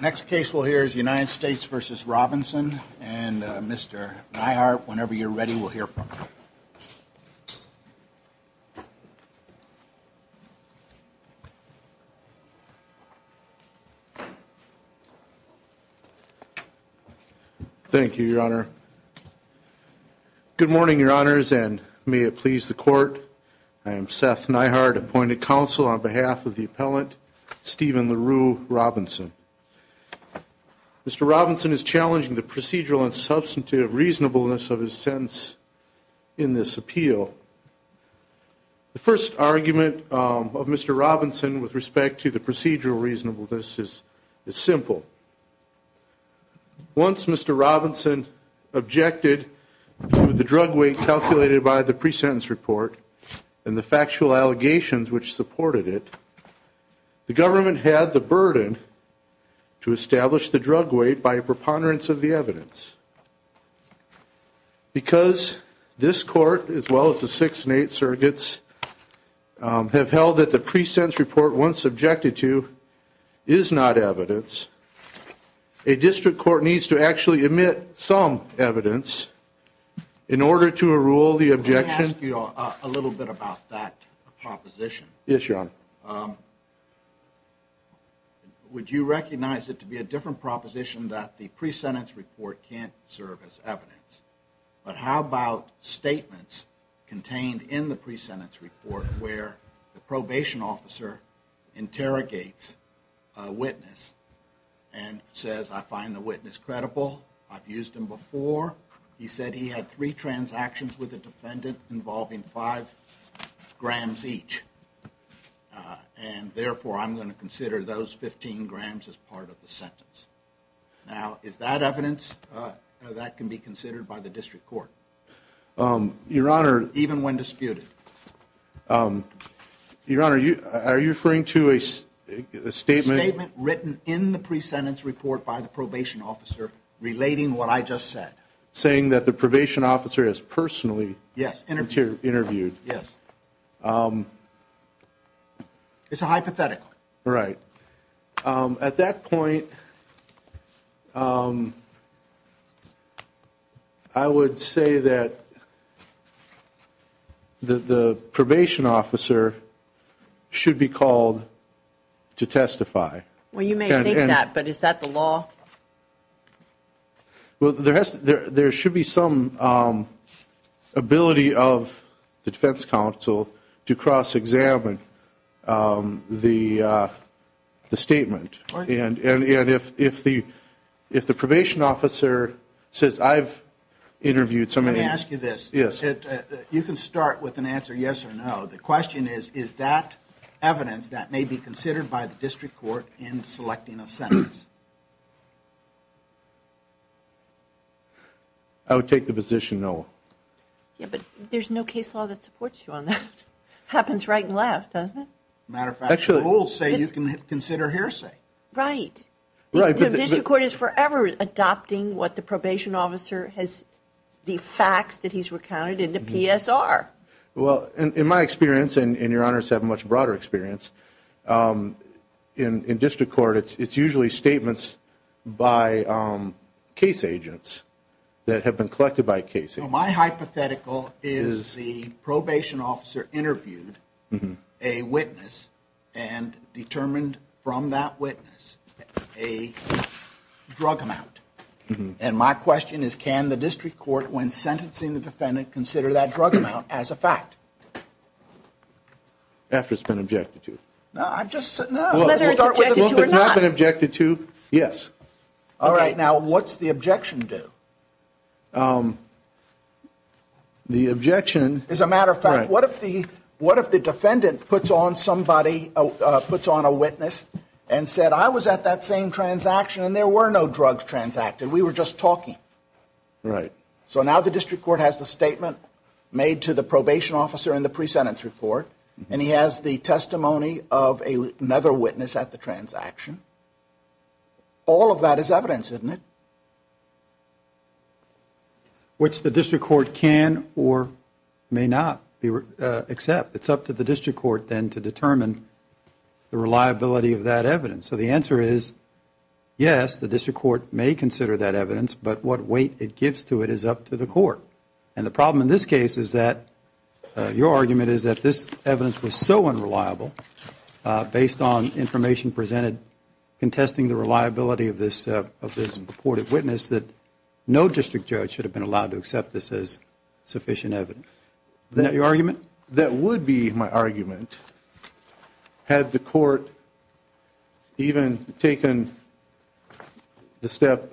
Next case we'll hear is United States v. Robinson, and Mr. Neihardt, whenever you're ready, we'll hear from you. Thank you, Your Honor. Good morning, Your Honors, and may it please the Court. I am Seth Neihardt, appointed counsel on behalf of the appellant, Steven LaRue Robinson. Mr. Robinson is challenging the procedural and substantive reasonableness of his sentence in this appeal. The first argument of Mr. Robinson with respect to the procedural reasonableness is simple. Once Mr. Robinson objected to the drug weight calculated by the pre-sentence report and the factual allegations which supported it, the government had the burden to establish the drug weight by a preponderance of the evidence. Because this Court, as well as the six and eight surrogates, have held that the pre-sentence report, once objected to, is not evidence, a district court needs to actually omit some evidence in order to rule the objection. Let me ask you a little bit about that proposition. Yes, Your Honor. Would you recognize it to be a different proposition that the pre-sentence report can't serve as evidence? But how about statements contained in the pre-sentence report where the probation officer interrogates a witness and says, I find the witness credible. I've used him before. He said he had three transactions with a defendant involving five grams each. And therefore, I'm going to consider those 15 grams as part of the sentence. Now, is that evidence? That can be considered by the district court. Your Honor, even when disputed. Your Honor, are you referring to a statement written in the pre-sentence report by the probation officer relating what I just said? Saying that the probation officer is personally interviewed? Yes. It's a hypothetical. Right. At that point, I would say that the probation officer should be called to testify. Well, you may think that, but is that the law? Well, there should be some ability of the defense counsel to cross-examine the statement. And if the probation officer says, I've interviewed somebody. Let me ask you this. You can start with an answer yes or no. The question is, is that evidence that may be considered by the district court in selecting a sentence? I would take the position no. Yeah, but there's no case law that supports you on that. Happens right and left, doesn't it? Matter of fact, the rules say you can consider hearsay. Right. The district court is forever adopting what the probation officer has, the facts that he's recounted in the PSR. Well, in my experience, and Your Honor's have a much broader experience, in district court, it's usually statements by case agents that have been collected by cases. So my hypothetical is the probation officer interviewed a witness and determined from that witness a drug amount. And my question is, can the district court, when sentencing the defendant, consider that drug amount as a fact? After it's been objected to. No, I've just said no. Whether it's objected to or not. It's not been objected to, yes. All right, now what's the objection do? The objection. As a matter of fact, what if the defendant puts on a witness and said, I was at that same transaction and there were no drugs transacted, we were just talking. Right. So now the district court has the statement made to the probation officer in the pre-sentence report, and he has the testimony of another witness at the transaction. All of that is evidence, isn't it? Which the district court can or may not accept. It's up to the district court then to determine the reliability of that evidence. So the answer is, yes, the district court may consider that evidence, but what weight it gives to it is up to the court. And the problem in this case is that your argument is that this evidence was so unreliable, based on information presented contesting the reliability of this reported witness, that no district judge should have been allowed to accept this as sufficient evidence. Isn't that your argument? That would be my argument had the court even taken the step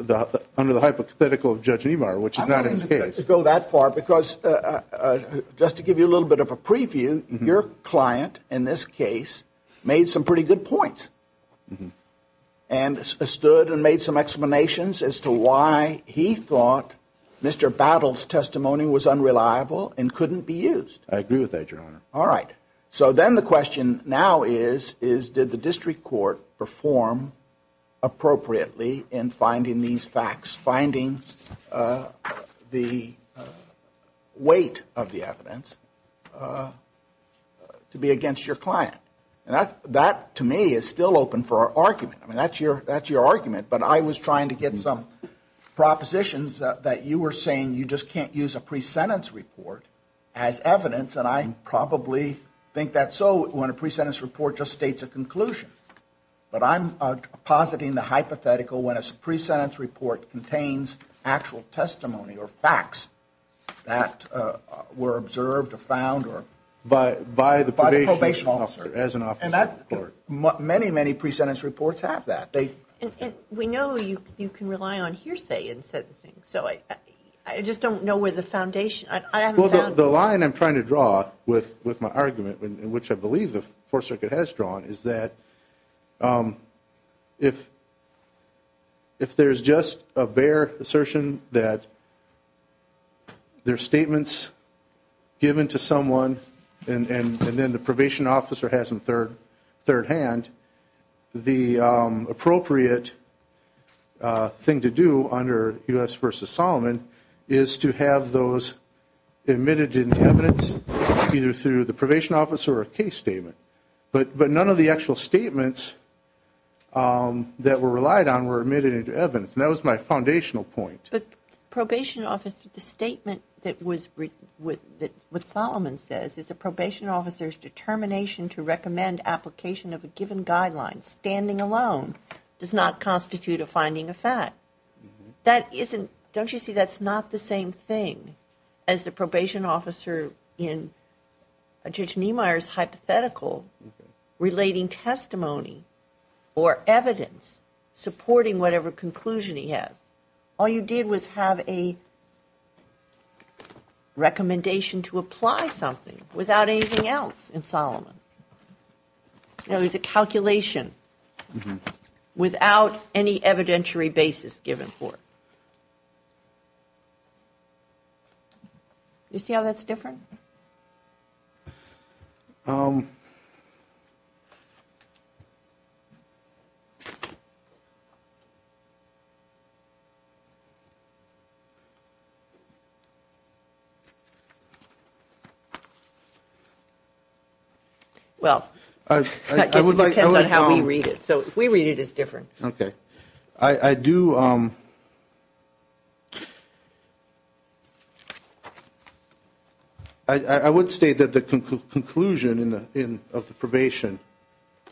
under the hypothetical of Judge Niemeyer, which is not his case. I'm not going to go that far, because just to give you a little bit of a preview, your client in this case made some pretty good points, and stood and made some explanations as to why he thought Mr. Battles' testimony was unreliable and couldn't be used. I agree with that, Your Honor. All right. So then the question now is, is did the district court perform appropriately in finding these facts, finding the weight of the evidence to be against your client? And that, to me, is still open for argument. I mean, that's your argument. But I was trying to get some propositions that you were saying you just can't use a pre-sentence report as evidence, and I probably think that's so when a pre-sentence report just states a conclusion. But I'm positing the hypothetical when a pre-sentence report contains actual testimony or facts that were observed or found by the probation officer, and many, many pre-sentence reports have that. We know you can rely on hearsay in sentencing, so I just don't know where the foundation is. Well, the line I'm trying to draw with my argument, which I believe the Fourth Circuit has drawn, is that if there's just a bare assertion that there are statements given to someone and then the probation officer has them third hand, the appropriate thing to do under U.S. v. Solomon is to have those admitted in the evidence either through the probation officer or a case statement. But none of the actual statements that were relied on were admitted into evidence, and that was my foundational point. But probation officer, the statement that was written, what Solomon says, is a probation officer's determination to recommend application of a given guideline, standing alone, does not constitute a finding of fact. That isn't, don't you see that's not the same thing as the probation officer in Judge Niemeyer's hypothetical relating testimony or evidence supporting whatever conclusion he has. All you did was have a recommendation to apply something without anything else in Solomon. It was a calculation without any evidentiary basis given for it. Do you see how that's different? Well, I guess it depends on how we read it. So if we read it, it's different. I do, I would state that the conclusion of the probation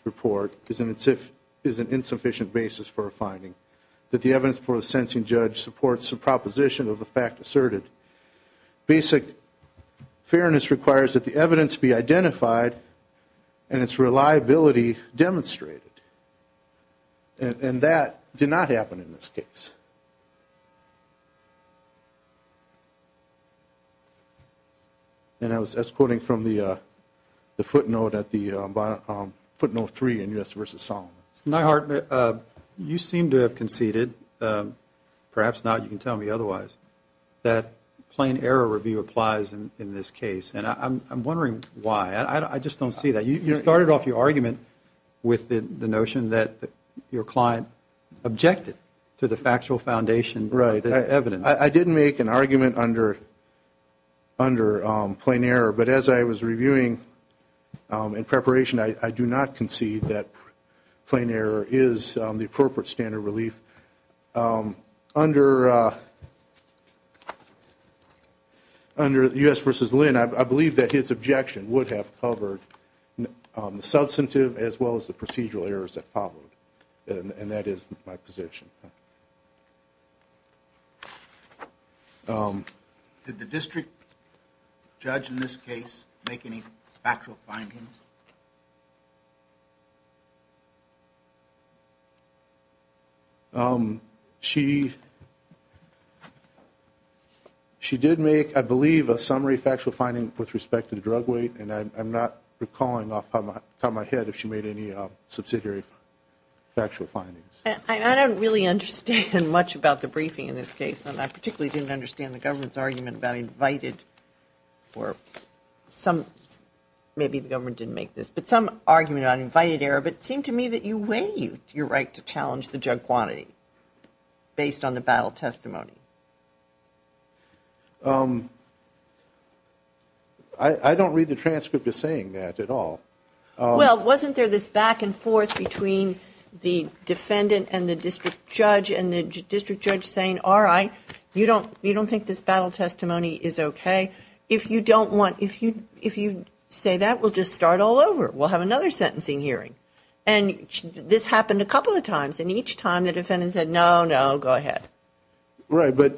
report is an insufficient basis for a finding, that the evidence before the sensing judge supports the proposition of the fact asserted. Basic fairness requires that the evidence be identified and its reliability demonstrated. And that did not happen in this case. And I was quoting from the footnote at the footnote three in U.S. v. Solomon. Neihart, you seem to have conceded, perhaps now you can tell me otherwise, that plain error review applies in this case. And I'm wondering why. I just don't see that. You started off your argument with the notion that your client objected to the factual foundation of the evidence. Right. I didn't make an argument under plain error, but as I was reviewing in preparation, I do not concede that plain error is the appropriate standard of relief. Under U.S. v. Lynn, I believe that his objection would have covered the substantive as well as the procedural errors that followed. And that is my position. Did the district judge in this case make any factual findings? She did make, I believe, a summary factual finding with respect to the drug weight, and I'm not recalling off the top of my head if she made any subsidiary factual findings. I don't really understand much about the briefing in this case, and I particularly didn't understand the government's argument about invited or some, maybe the government didn't make this, but some argument on invited error. But it seemed to me that you weighed your right to challenge the drug quantity based on the battle testimony. I don't read the transcript as saying that at all. Well, wasn't there this back and forth between the defendant and the district judge, and the district judge saying, all right, you don't think this battle testimony is okay? If you don't want, if you say that, we'll just start all over. We'll have another sentencing hearing. And this happened a couple of times, and each time the defendant said, no, no, go ahead. Right, but.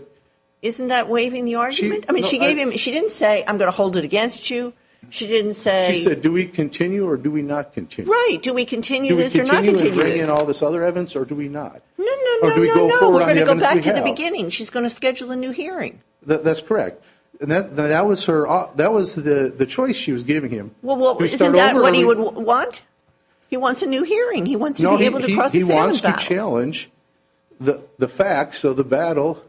Isn't that waiving the argument? I mean, she gave him, she didn't say, I'm going to hold it against you. She didn't say. She said, do we continue or do we not continue? Right, do we continue this or not continue this? Do we continue and bring in all this other evidence or do we not? No, no, no, no, no. Or do we go forward on the evidence we have? We're going to go back to the beginning. She's going to schedule a new hearing. That's correct. And that was her, that was the choice she was giving him. Well, isn't that what he would want? He wants a new hearing. He wants to be able to cross examine that. No, he wants to challenge the facts of the battle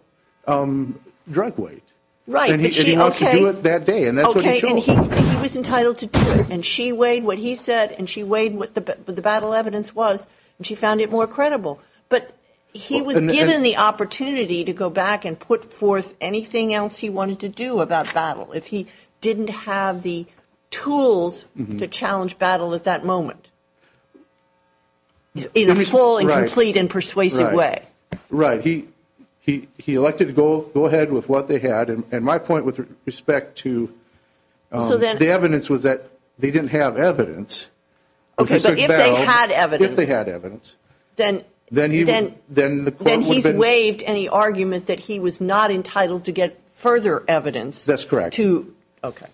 drunk weight. Right. And he wants to do it that day, and that's what he chose. Okay, and he was entitled to do it. And she weighed what he said and she weighed what the battle evidence was, and she found it more credible. But he was given the opportunity to go back and put forth anything else he wanted to do about battle. If he didn't have the tools to challenge battle at that moment in a full and complete and persuasive way. Right. He elected to go ahead with what they had. And my point with respect to the evidence was that they didn't have evidence. Okay, so if they had evidence. If they had evidence. Then he's waived any argument that he was not entitled to get further evidence. That's correct. Okay.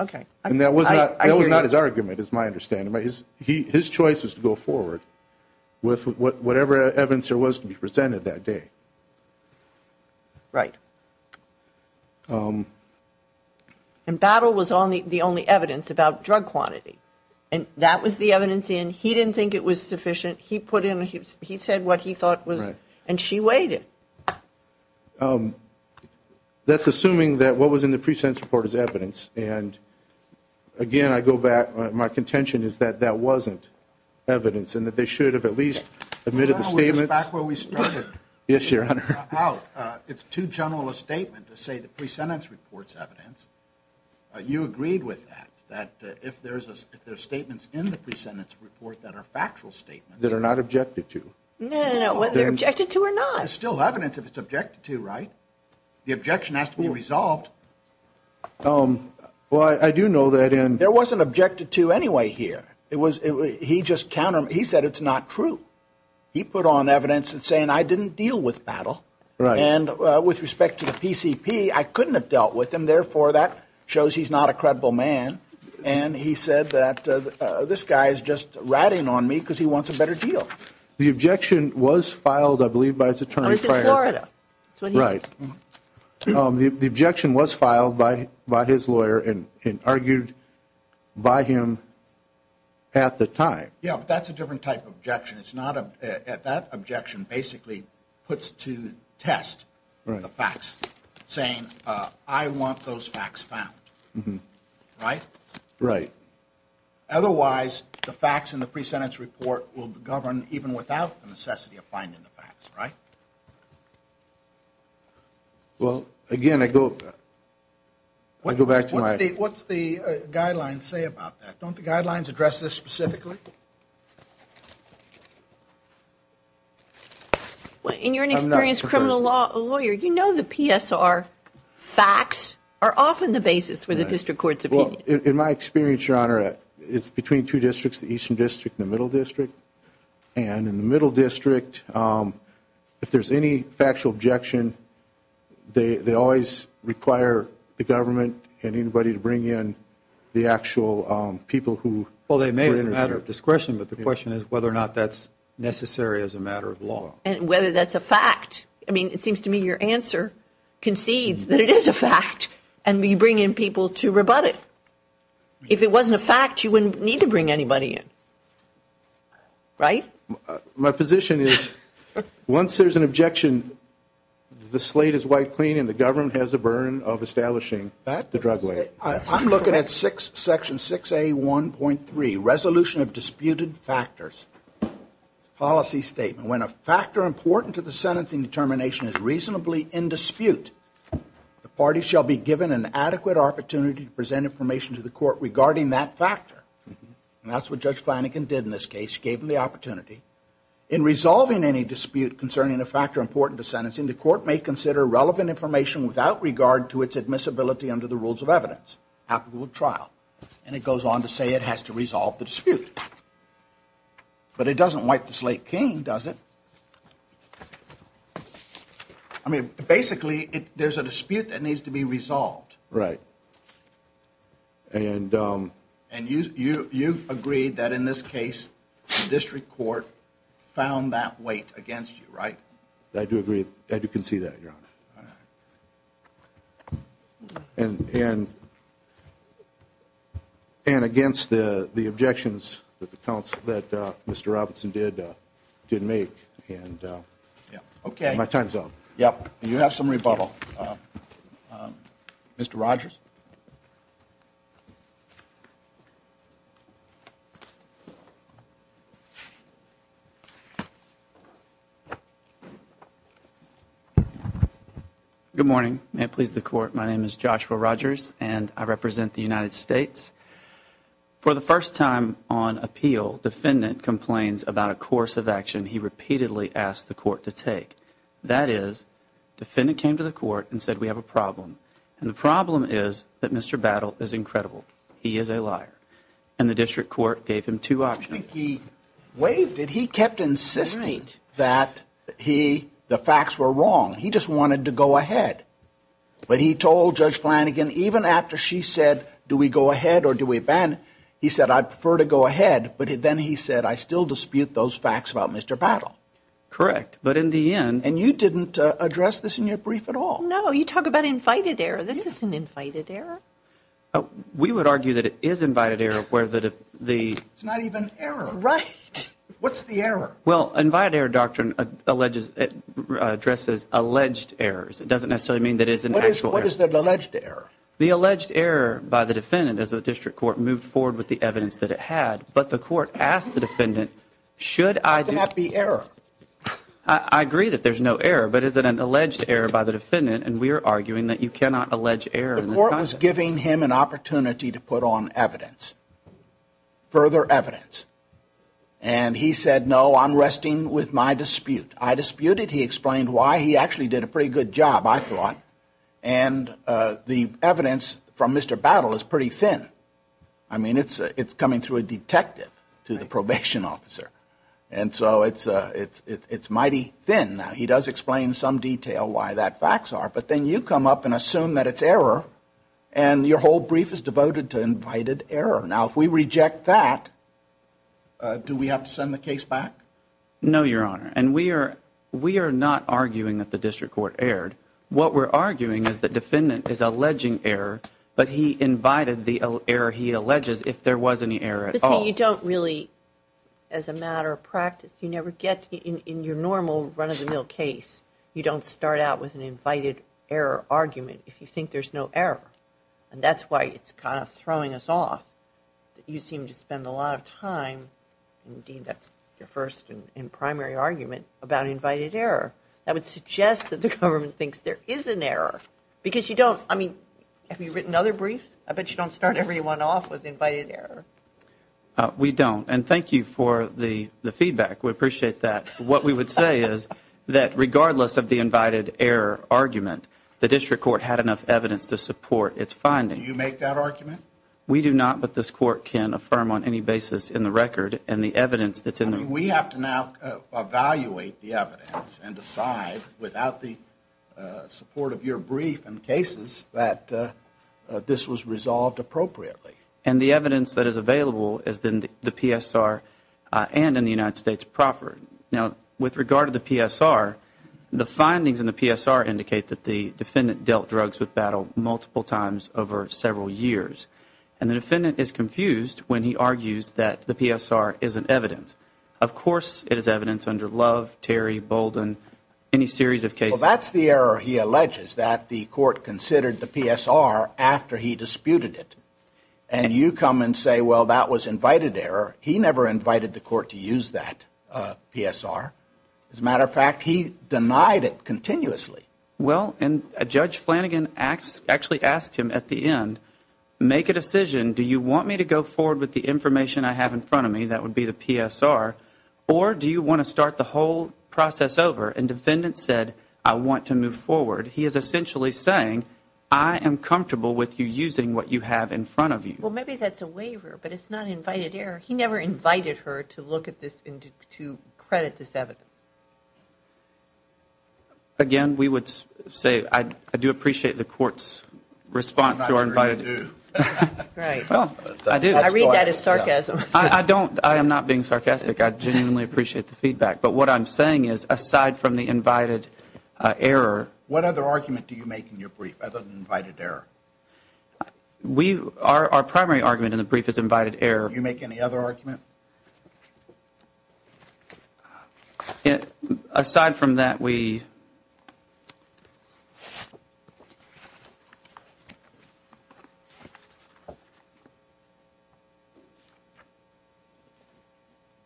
Okay. And that was not his argument, is my understanding. His choice was to go forward with whatever evidence there was to be presented that day. Right. And battle was the only evidence about drug quantity. And that was the evidence in. He didn't think it was sufficient. He put in. He said what he thought was. And she weighed it. That's assuming that what was in the pre-sentence report is evidence. And again, I go back. My contention is that that wasn't evidence and that they should have at least admitted the statement. Back where we started. Yes, Your Honor. It's too general a statement to say the pre-sentence report's evidence. You agreed with that. That if there's a statement in the pre-sentence report that are factual statements. That are not objected to. No, no, no. Whether they're objected to or not. That is still evidence if it's objected to, right? The objection has to be resolved. Well, I do know that in. There wasn't objected to anyway here. It was. He just countered. He said it's not true. He put on evidence and saying I didn't deal with battle. Right. And with respect to the PCP, I couldn't have dealt with him. Therefore, that shows he's not a credible man. And he said that this guy is just ratting on me because he wants a better deal. The objection was filed, I believe, by his attorney. I was in Florida. Right. The objection was filed by his lawyer and argued by him at the time. Yeah, but that's a different type of objection. It's not a. That objection basically puts to test the facts. Saying I want those facts found. Right? Right. Otherwise, the facts in the pre-sentence report will govern even without the necessity of finding the facts. Right. Well, again, I go. I go back to my. What's the guidelines say about that? Don't the guidelines address this specifically? Well, and you're an experienced criminal lawyer. You know the PSR facts are often the basis for the district court's opinion. In my experience, Your Honor, it's between two districts, the eastern district and the middle district. And in the middle district, if there's any factual objection, they always require the government and anybody to bring in the actual people who. Well, they may as a matter of discretion. But the question is whether or not that's necessary as a matter of law. And whether that's a fact. I mean, it seems to me your answer concedes that it is a fact. And we bring in people to rebut it. If it wasn't a fact, you wouldn't need to bring anybody in. Right? My position is once there's an objection, the slate is white clean and the government has a burden of establishing the drug lawyer. I'm looking at section 6A1.3, resolution of disputed factors. Policy statement. When a factor important to the sentencing determination is reasonably in dispute, the party shall be given an adequate opportunity to present information to the court regarding that factor. And that's what Judge Flanagan did in this case. Gave him the opportunity. In resolving any dispute concerning a factor important to sentencing, the court may consider relevant information without regard to its admissibility under the rules of evidence. Happen with trial. And it goes on to say it has to resolve the dispute. But it doesn't wipe the slate clean, does it? I mean, basically, there's a dispute that needs to be resolved. Right. And you agreed that in this case the district court found that weight against you, right? I do agree. I do concede that, Your Honor. All right. And against the objections that Mr. Robinson did make. Okay. My time's up. Yep. You have some rebuttal. Mr. Rogers? Good morning. May it please the court. My name is Joshua Rogers, and I represent the United States. For the first time on appeal, defendant complains about a course of action he repeatedly asked the court to take. That is, defendant came to the court and said we have a problem. And the problem is that Mr. Battle is incredible. He is a liar. And the district court gave him two options. I think he waived it. He kept insisting that the facts were wrong. He just wanted to go ahead. But he told Judge Flanagan even after she said do we go ahead or do we abandon, he said I prefer to go ahead. But then he said I still dispute those facts about Mr. Battle. Correct. But in the end. And you didn't address this in your brief at all. No. You talk about invited error. This isn't invited error. We would argue that it is invited error where the. It's not even error. Right. What's the error? Well, invited error doctrine addresses alleged errors. It doesn't necessarily mean that it is an actual error. What is the alleged error? The alleged error by the defendant as the district court moved forward with the evidence that it had. But the court asked the defendant should I. It cannot be error. I agree that there's no error. But is it an alleged error by the defendant? And we are arguing that you cannot allege error. The court was giving him an opportunity to put on evidence, further evidence. And he said, no, I'm resting with my dispute. I disputed. He explained why. He actually did a pretty good job, I thought. And the evidence from Mr. Battle is pretty thin. I mean, it's coming through a detective to the probation officer. And so it's mighty thin. He does explain in some detail why that facts are. But then you come up and assume that it's error. And your whole brief is devoted to invited error. Now, if we reject that, do we have to send the case back? No, Your Honor. And we are not arguing that the district court erred. What we're arguing is the defendant is alleging error, but he invited the error he alleges if there was any error at all. But, see, you don't really, as a matter of practice, you never get in your normal run-of-the-mill case, you don't start out with an invited error argument if you think there's no error. And that's why it's kind of throwing us off. You seem to spend a lot of time, indeed that's your first and primary argument, about invited error. That would suggest that the government thinks there is an error. Because you don't, I mean, have you written other briefs? I bet you don't start everyone off with invited error. We don't. And thank you for the feedback. We appreciate that. What we would say is that regardless of the invited error argument, the district court had enough evidence to support its findings. Do you make that argument? We do not. But this court can affirm on any basis in the record and the evidence that's in there. We have to now evaluate the evidence and decide, without the support of your brief and cases, that this was resolved appropriately. And the evidence that is available is in the PSR and in the United States proper. Now, with regard to the PSR, the findings in the PSR indicate that the defendant dealt drugs with battle multiple times over several years. And the defendant is confused when he argues that the PSR isn't evidence. Of course it is evidence under Love, Terry, Bolden, any series of cases. Well, that's the error he alleges, that the court considered the PSR after he disputed it. And you come and say, well, that was invited error. He never invited the court to use that PSR. As a matter of fact, he denied it continuously. Well, and Judge Flanagan actually asked him at the end, make a decision. Do you want me to go forward with the information I have in front of me, that would be the PSR, or do you want to start the whole process over? And defendant said, I want to move forward. He is essentially saying, I am comfortable with you using what you have in front of you. Well, maybe that's a waiver, but it's not invited error. He never invited her to look at this and to credit this evidence. Again, we would say I do appreciate the court's response to our invited error. I'm not sure you do. Right. Well, I do. I read that as sarcasm. I don't. I am not being sarcastic. I genuinely appreciate the feedback. But what I'm saying is, aside from the invited error. What other argument do you make in your brief other than invited error? Our primary argument in the brief is invited error. Do you make any other argument? Aside from that, we.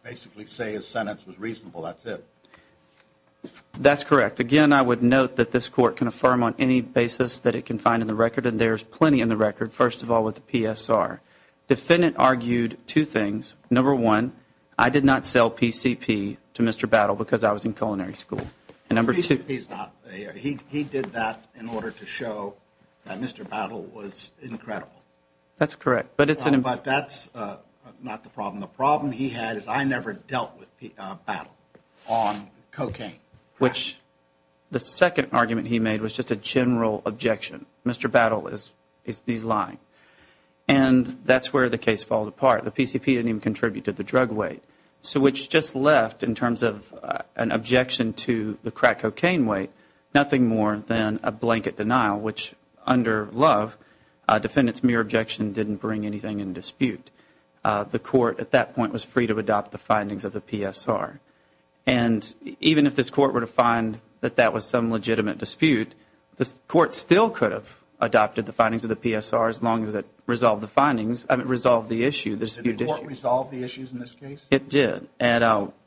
Basically say his sentence was reasonable. That's it. That's correct. Again, I would note that this court can affirm on any basis that it can find in the record, and there's plenty in the record, first of all, with the PSR. Defendant argued two things. Number one, I did not sell PCP to Mr. Battle because I was in culinary school. And number two. He did that in order to show that Mr. Battle was incredible. That's correct. But that's not the problem. The problem he had is I never dealt with Battle on cocaine. Which the second argument he made was just a general objection. Mr. Battle is lying. And that's where the case falls apart. The PCP didn't even contribute to the drug weight. So which just left, in terms of an objection to the crack cocaine weight, nothing more than a blanket denial, which under Love, a defendant's mere objection didn't bring anything in dispute. The court at that point was free to adopt the findings of the PSR. And even if this court were to find that that was some legitimate dispute, the court still could have adopted the findings of the PSR as long as it resolved the issue. Did the court resolve the issues in this case? It did.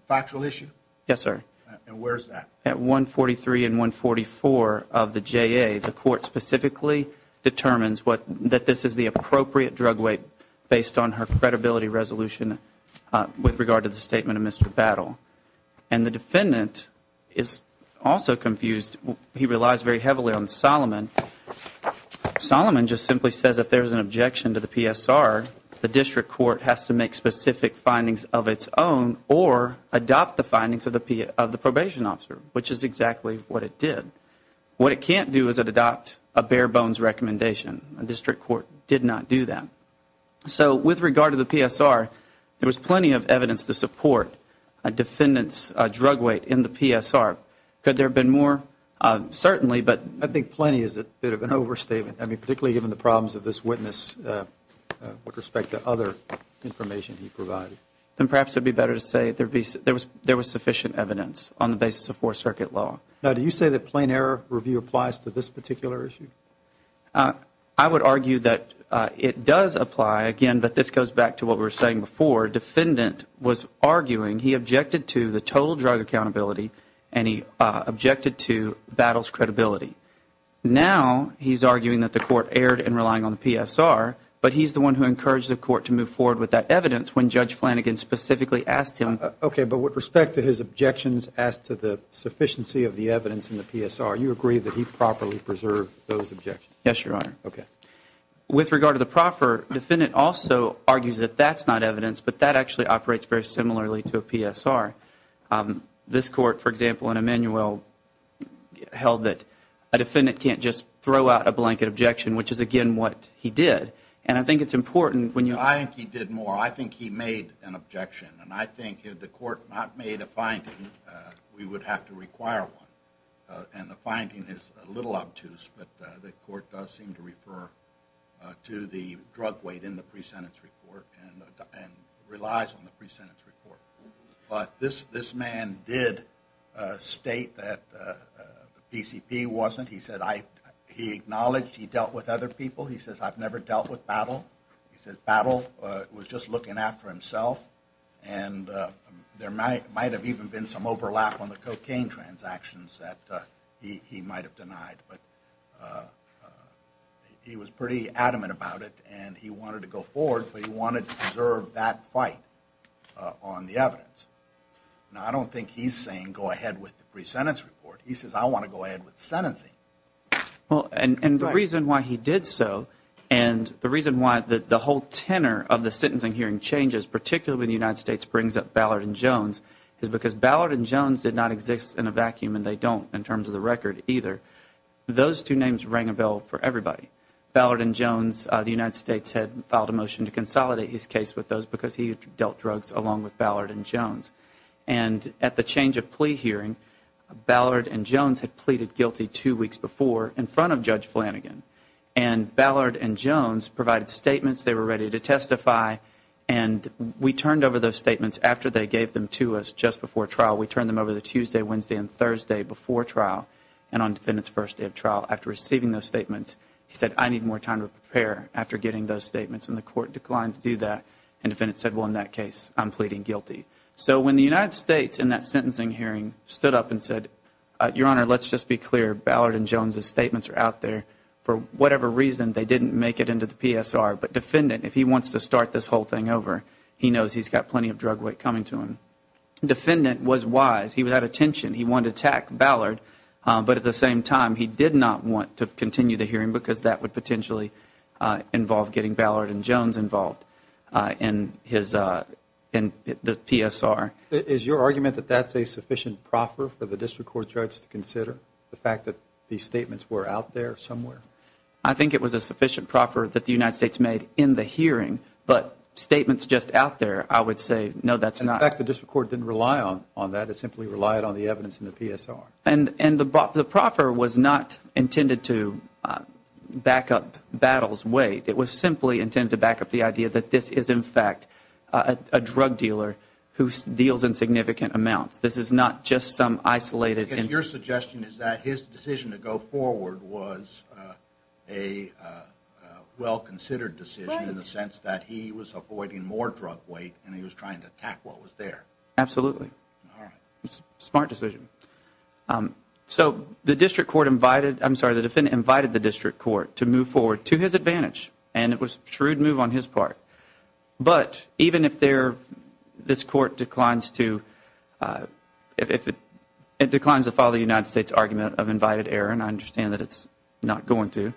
Factual issue? Yes, sir. And where is that? At 143 and 144 of the JA, the court specifically determines that this is the appropriate drug weight based on her credibility resolution with regard to the statement of Mr. Battle. And the defendant is also confused. He relies very heavily on Solomon. Solomon just simply says if there's an objection to the PSR, the district court has to make specific findings of its own or adopt the findings of the probation officer, which is exactly what it did. What it can't do is it adopt a bare bones recommendation. The district court did not do that. So with regard to the PSR, there was plenty of evidence to support a defendant's drug weight in the PSR. Could there have been more? Certainly. I think plenty is a bit of an overstatement, particularly given the problems of this witness with respect to other information he provided. Then perhaps it would be better to say there was sufficient evidence on the basis of Fourth Circuit law. Now, do you say that plain error review applies to this particular issue? I would argue that it does apply, again, but this goes back to what we were saying before. was arguing he objected to the total drug accountability and he objected to battles credibility. Now he's arguing that the court erred in relying on the PSR, but he's the one who encouraged the court to move forward with that evidence when Judge Flanagan specifically asked him. Okay, but with respect to his objections as to the sufficiency of the evidence in the PSR, you agree that he properly preserved those objections? Yes, Your Honor. Okay. With regard to the proffer, the defendant also argues that that's not evidence, but that actually operates very similarly to a PSR. This court, for example, in Emmanuelle, held that a defendant can't just throw out a blanket objection, which is, again, what he did. And I think it's important when you – I think he did more. I think he made an objection. And I think if the court not made a finding, we would have to require one. And the finding is a little obtuse, but the court does seem to refer to the drug weight in the pre-sentence report and relies on the pre-sentence report. But this man did state that the PCP wasn't – he said he acknowledged he dealt with other people. He says, I've never dealt with battle. He says battle was just looking after himself. And there might have even been some overlap on the cocaine transactions that he might have denied. But he was pretty adamant about it, and he wanted to go forward. So he wanted to preserve that fight on the evidence. Now, I don't think he's saying go ahead with the pre-sentence report. He says, I want to go ahead with sentencing. Well, and the reason why he did so And the reason why the whole tenor of the sentencing hearing changes, particularly when the United States brings up Ballard and Jones, is because Ballard and Jones did not exist in a vacuum, and they don't in terms of the record either. Those two names rang a bell for everybody. Ballard and Jones, the United States had filed a motion to consolidate his case with those because he had dealt drugs along with Ballard and Jones. And at the change of plea hearing, Ballard and Jones had pleaded guilty two weeks before in front of Judge Flanagan. And Ballard and Jones provided statements. They were ready to testify. And we turned over those statements after they gave them to us just before trial. We turned them over the Tuesday, Wednesday, and Thursday before trial and on the defendant's first day of trial after receiving those statements. He said, I need more time to prepare after getting those statements, and the court declined to do that. And the defendant said, well, in that case, I'm pleading guilty. So when the United States in that sentencing hearing stood up and said, Your Honor, let's just be clear. Ballard and Jones' statements are out there. For whatever reason, they didn't make it into the PSR. But defendant, if he wants to start this whole thing over, he knows he's got plenty of drug weight coming to him. Defendant was wise. He had attention. He wanted to attack Ballard. But at the same time, he did not want to continue the hearing because that would potentially involve getting Ballard and Jones involved in the PSR. Is your argument that that's a sufficient proffer for the district court judge to consider, the fact that these statements were out there somewhere? I think it was a sufficient proffer that the United States made in the hearing. But statements just out there, I would say, no, that's not. In fact, the district court didn't rely on that. It simply relied on the evidence in the PSR. And the proffer was not intended to back up Battles' weight. It was simply intended to back up the idea that this is, in fact, a drug dealer who deals in significant amounts. This is not just some isolated individual. Your suggestion is that his decision to go forward was a well-considered decision in the sense that he was avoiding more drug weight and he was trying to attack what was there. Absolutely. Smart decision. So the defendant invited the district court to move forward to his advantage, and it was a shrewd move on his part. But even if this court declines to follow the United States argument of invited error, and I understand that it's not going to,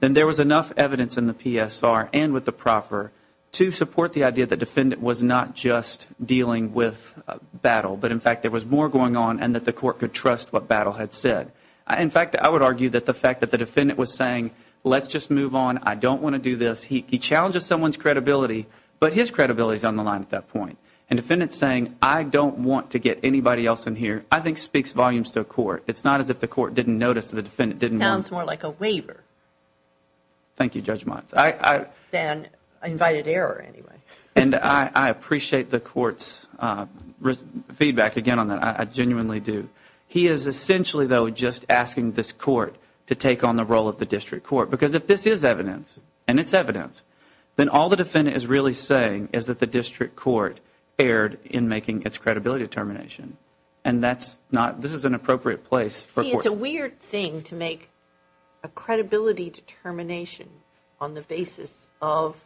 then there was enough evidence in the PSR and with the proffer to support the idea that the defendant was not just dealing with Battle, but in fact there was more going on and that the court could trust what Battle had said. In fact, I would argue that the fact that the defendant was saying, let's just move on, I don't want to do this. He challenges someone's credibility, but his credibility is on the line at that point. And the defendant is saying, I don't want to get anybody else in here, I think speaks volumes to a court. It's not as if the court didn't notice that the defendant didn't want to. It sounds more like a waiver. Thank you, Judge Motz. Than invited error, anyway. And I appreciate the court's feedback again on that. I genuinely do. He is essentially, though, just asking this court to take on the role of the district court. Because if this is evidence, and it's evidence, then all the defendant is really saying is that the district court erred in making its credibility determination. And this is an appropriate place for a court. See, it's a weird thing to make a credibility determination on the basis of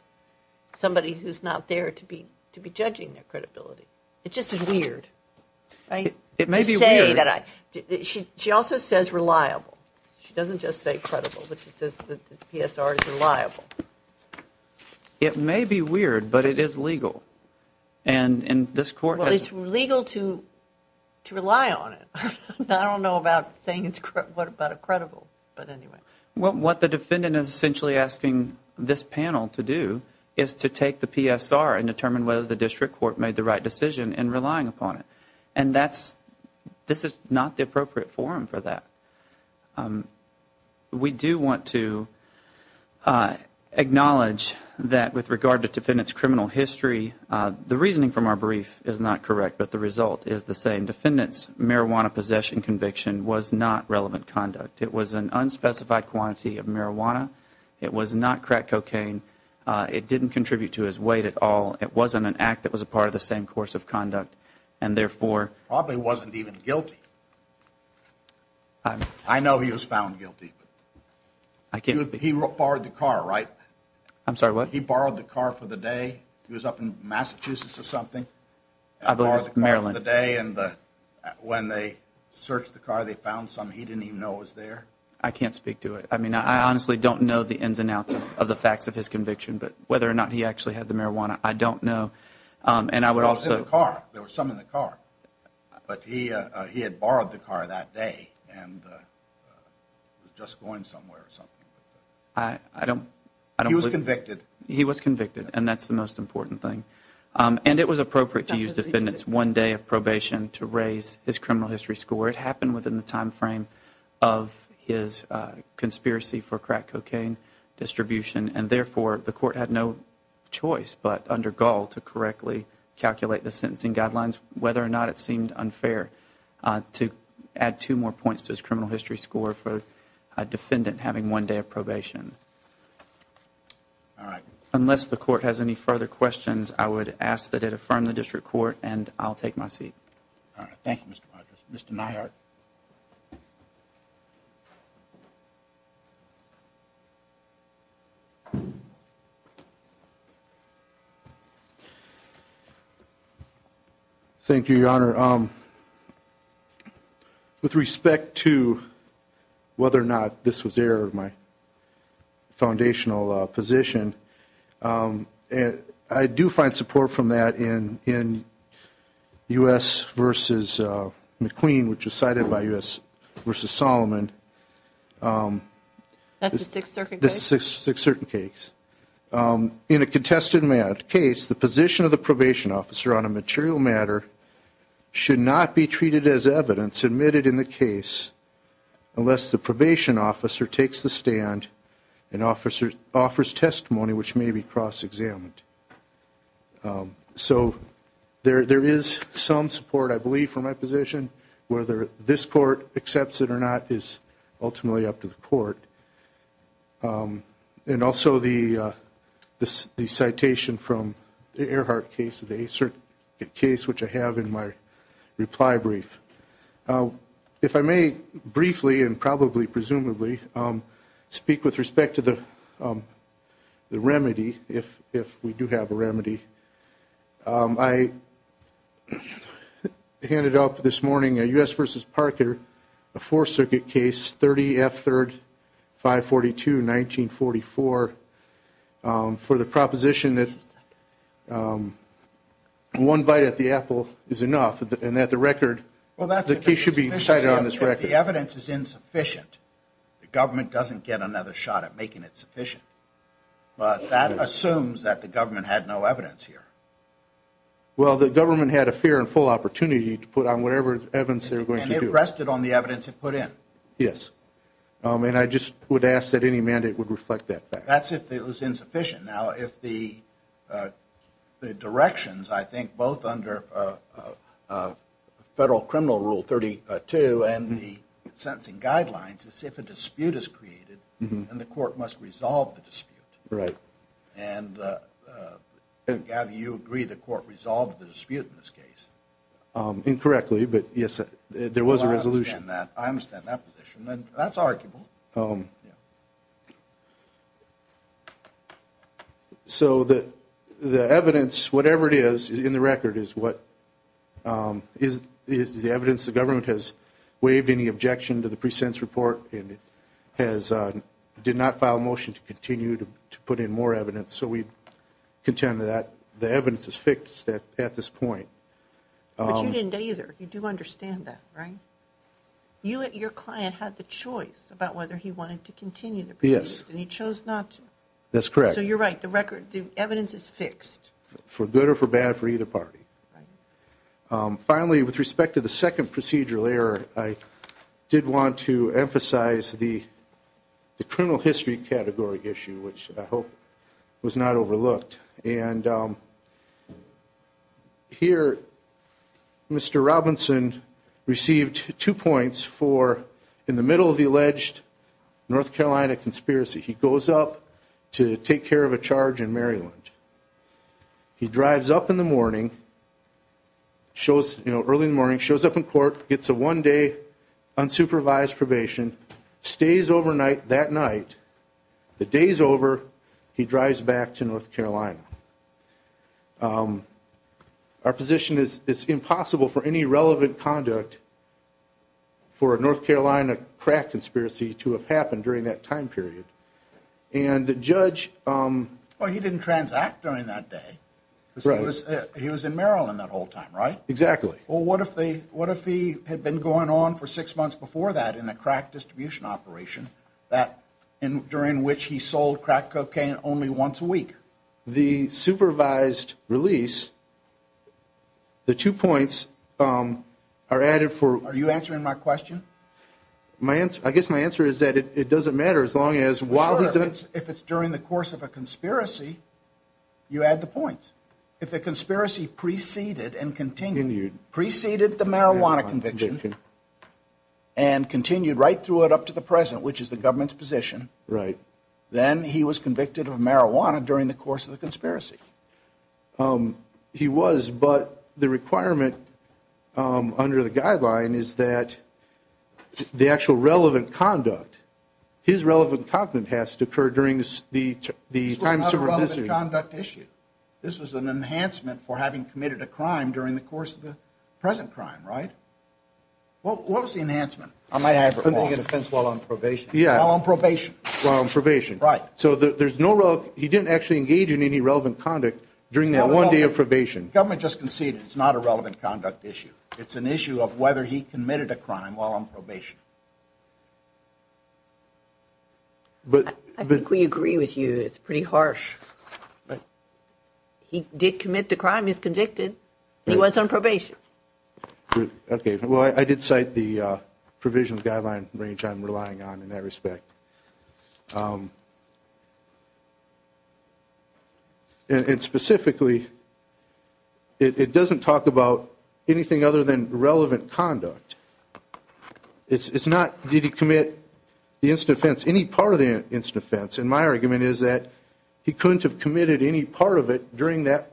somebody who's not there to be judging their credibility. It just is weird. It may be weird. She also says reliable. She doesn't just say credible, but she says the PSR is reliable. It may be weird, but it is legal. Well, it's legal to rely on it. I don't know about saying it's credible, but anyway. Well, what the defendant is essentially asking this panel to do is to take the PSR and determine whether the district court made the right decision in relying upon it. And this is not the appropriate forum for that. We do want to acknowledge that with regard to the defendant's criminal history, the reasoning from our brief is not correct, but the result is the same. The defendant's marijuana possession conviction was not relevant conduct. It was an unspecified quantity of marijuana. It was not crack cocaine. It didn't contribute to his weight at all. It wasn't an act that was a part of the same course of conduct, and therefore... Probably wasn't even guilty. I know he was found guilty. He borrowed the car, right? I'm sorry, what? He borrowed the car for the day. He was up in Massachusetts or something. I believe it was Maryland. And when they searched the car, they found something he didn't even know was there. I can't speak to it. I mean, I honestly don't know the ins and outs of the facts of his conviction, but whether or not he actually had the marijuana, I don't know. It was in the car. There was some in the car. But he had borrowed the car that day and was just going somewhere or something. I don't... He was convicted. He was convicted, and that's the most important thing. And it was appropriate to use the defendant's one day of probation to raise his criminal history score. It happened within the time frame of his conspiracy for crack cocaine distribution, and therefore the court had no choice but, under Gall, to correctly calculate the sentencing guidelines, whether or not it seemed unfair, to add two more points to his criminal history score for a defendant having one day of probation. Unless the court has any further questions, I would ask that it affirm the district court, and I'll take my seat. Thank you, Mr. Rogers. Mr. Neihardt. Thank you, Your Honor. With respect to whether or not this was error of my foundational position, I do find support from that in U.S. v. McQueen, which was cited by U.S. v. Solomon. That's a Sixth Circuit case? That's a Sixth Circuit case. In a contested case, the position of the probation officer on a material matter should not be treated as evidence admitted in the case unless the probation officer takes the stand and offers testimony which may be cross-examined. So there is some support, I believe, from my position. Whether this court accepts it or not is ultimately up to the court. And also the citation from the Earhart case, the Eighth Circuit case, which I have in my reply brief. If I may briefly, and probably presumably, speak with respect to the remedy, if we do have a remedy, I handed up this morning a U.S. v. Parker, a Fourth Circuit case, 30F3-542-1944, for the proposition that one bite at the apple is enough, and that the record, the case should be cited on this record. Well, that's if the evidence is insufficient. The government doesn't get another shot at making it sufficient. But that assumes that the government had no evidence here. Well, the government had a fair and full opportunity to put on whatever evidence they were going to do. And it rested on the evidence it put in. Yes. And I just would ask that any mandate would reflect that fact. That's if it was insufficient. Now, if the directions, I think, both under Federal Criminal Rule 32 and the sentencing guidelines, is if a dispute is created, then the court must resolve the dispute. Right. And do you agree the court resolved the dispute in this case? Incorrectly, but yes, there was a resolution. I understand that. I understand that position. And that's arguable. Yes. So the evidence, whatever it is in the record, is the evidence the government has waived any objection to the present report and did not file a motion to continue to put in more evidence. So we contend that the evidence is fixed at this point. But you didn't either. You do understand that, right? You and your client had the choice about whether he wanted to continue the proceedings. Yes. And he chose not to. That's correct. So you're right. The evidence is fixed. For good or for bad for either party. Right. Finally, with respect to the second procedural error, I did want to emphasize the criminal history category issue, which I hope was not overlooked. And here, Mr. Robinson received two points for in the middle of the alleged North Carolina conspiracy. He goes up to take care of a charge in Maryland. He drives up in the morning, shows, you know, early in the morning, shows up in court, gets a one-day unsupervised probation, stays overnight that night, the day's over, he drives back to North Carolina. Our position is it's impossible for any relevant conduct for a North Carolina crack conspiracy to have happened during that time period. And the judge... Well, he didn't transact during that day. Right. He was in Maryland that whole time, right? Exactly. Well, what if he had been going on for six months before that in a crack distribution operation, during which he sold crack cocaine only once a week? The supervised release, the two points are added for... Are you answering my question? I guess my answer is that it doesn't matter as long as... Sure, if it's during the course of a conspiracy, you add the points. If the conspiracy preceded and continued... Preceded the marijuana conviction. And continued right through it up to the present, which is the government's position. Right. Then he was convicted of marijuana during the course of the conspiracy. He was, but the requirement under the guideline is that the actual relevant conduct, his relevant conduct has to occur during the time... It's a relevant conduct issue. This was an enhancement for having committed a crime during the course of the present crime, right? What was the enhancement? I might have to make a defense while on probation. Yeah. While on probation. While on probation. Right. So there's no... He didn't actually engage in any relevant conduct during that one day of probation. The government just conceded it's not a relevant conduct issue. It's an issue of whether he committed a crime while on probation. I think we agree with you. It's pretty harsh. Right. He did commit the crime. He's convicted. He was on probation. Okay. Well, I did cite the provisional guideline range I'm relying on in that respect. And specifically, it doesn't talk about anything other than relevant conduct. It's not, did he commit the instant offense, any part of the instant offense. And my argument is that he couldn't have committed any part of it during that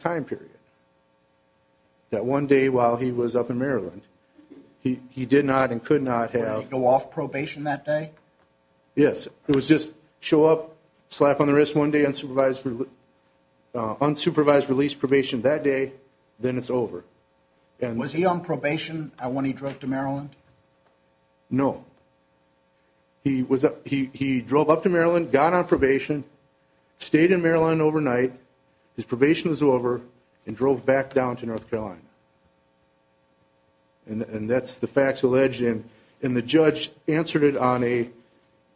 time period. That one day while he was up in Maryland. He did not and could not have... Did he go off probation that day? Yes. It was just show up, slap on the wrist one day, unsupervised release probation that day, then it's over. Was he on probation when he drove to Maryland? No. He drove up to Maryland, got on probation, stayed in Maryland overnight. His probation was over and drove back down to North Carolina. And that's the facts alleged. And the judge answered it on a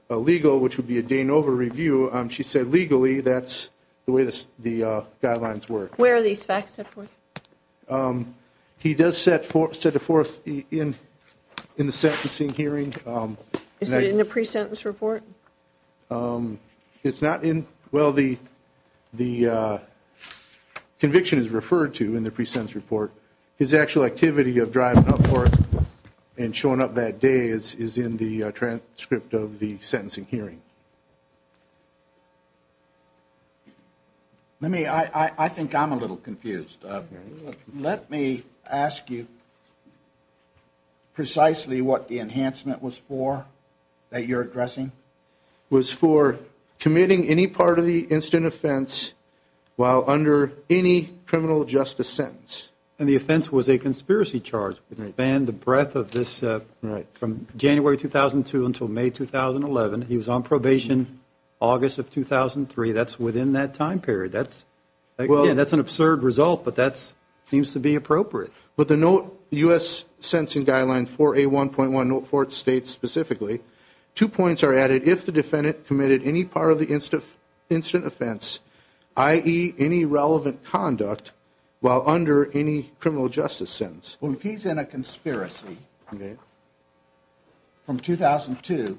legal, which would be a Danova review. She said legally, that's the way the guidelines work. Where are these facts set forth? He does set the forth in the sentencing hearing. Is it in the pre-sentence report? It's not in, well the conviction is referred to in the pre-sentence report. His actual activity of driving up for it and showing up that day is in the transcript of the sentencing hearing. Let me, I think I'm a little confused. Let me ask you precisely what the enhancement was for that you're addressing? It was for committing any part of the instant offense while under any criminal justice sentence. And the offense was a conspiracy charge. It would expand the breadth of this from January 2002 until May 2011. He was on probation. He was on probation August of 2003. That's within that time period. That's, again, that's an absurd result, but that seems to be appropriate. But the note, U.S. Sentencing Guidelines 4A1.1, note 4 states specifically, two points are added if the defendant committed any part of the instant offense, i.e., any relevant conduct while under any criminal justice sentence. Well, if he's in a conspiracy from 2002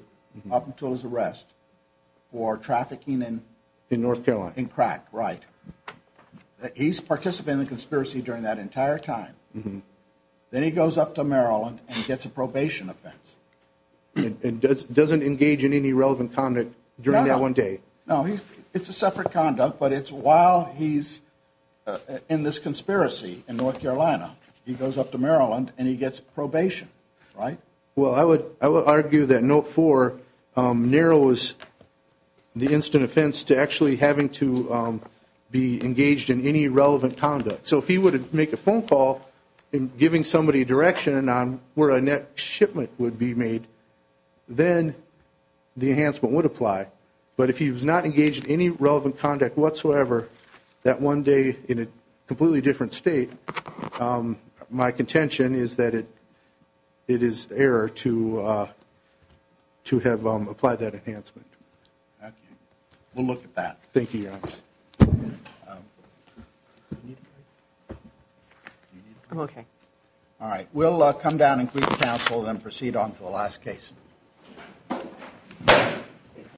up until his arrest for trafficking in crack, right, he's participating in the conspiracy during that entire time. Then he goes up to Maryland and gets a probation offense. And doesn't engage in any relevant conduct during that one day. No, it's a separate conduct, but it's while he's in this conspiracy in North Carolina, he goes up to Maryland and he gets probation, right? Well, I would argue that note 4 narrows the instant offense to actually having to be engaged in any relevant conduct. So if he were to make a phone call and giving somebody direction on where a next shipment would be made, then the enhancement would apply. But if he was not engaged in any relevant conduct whatsoever, that one day in a completely different state, my contention is that it is error to have applied that enhancement. Okay. We'll look at that. Thank you, Your Honor. I'm okay. All right. We'll come down and brief counsel and then proceed on to the last case.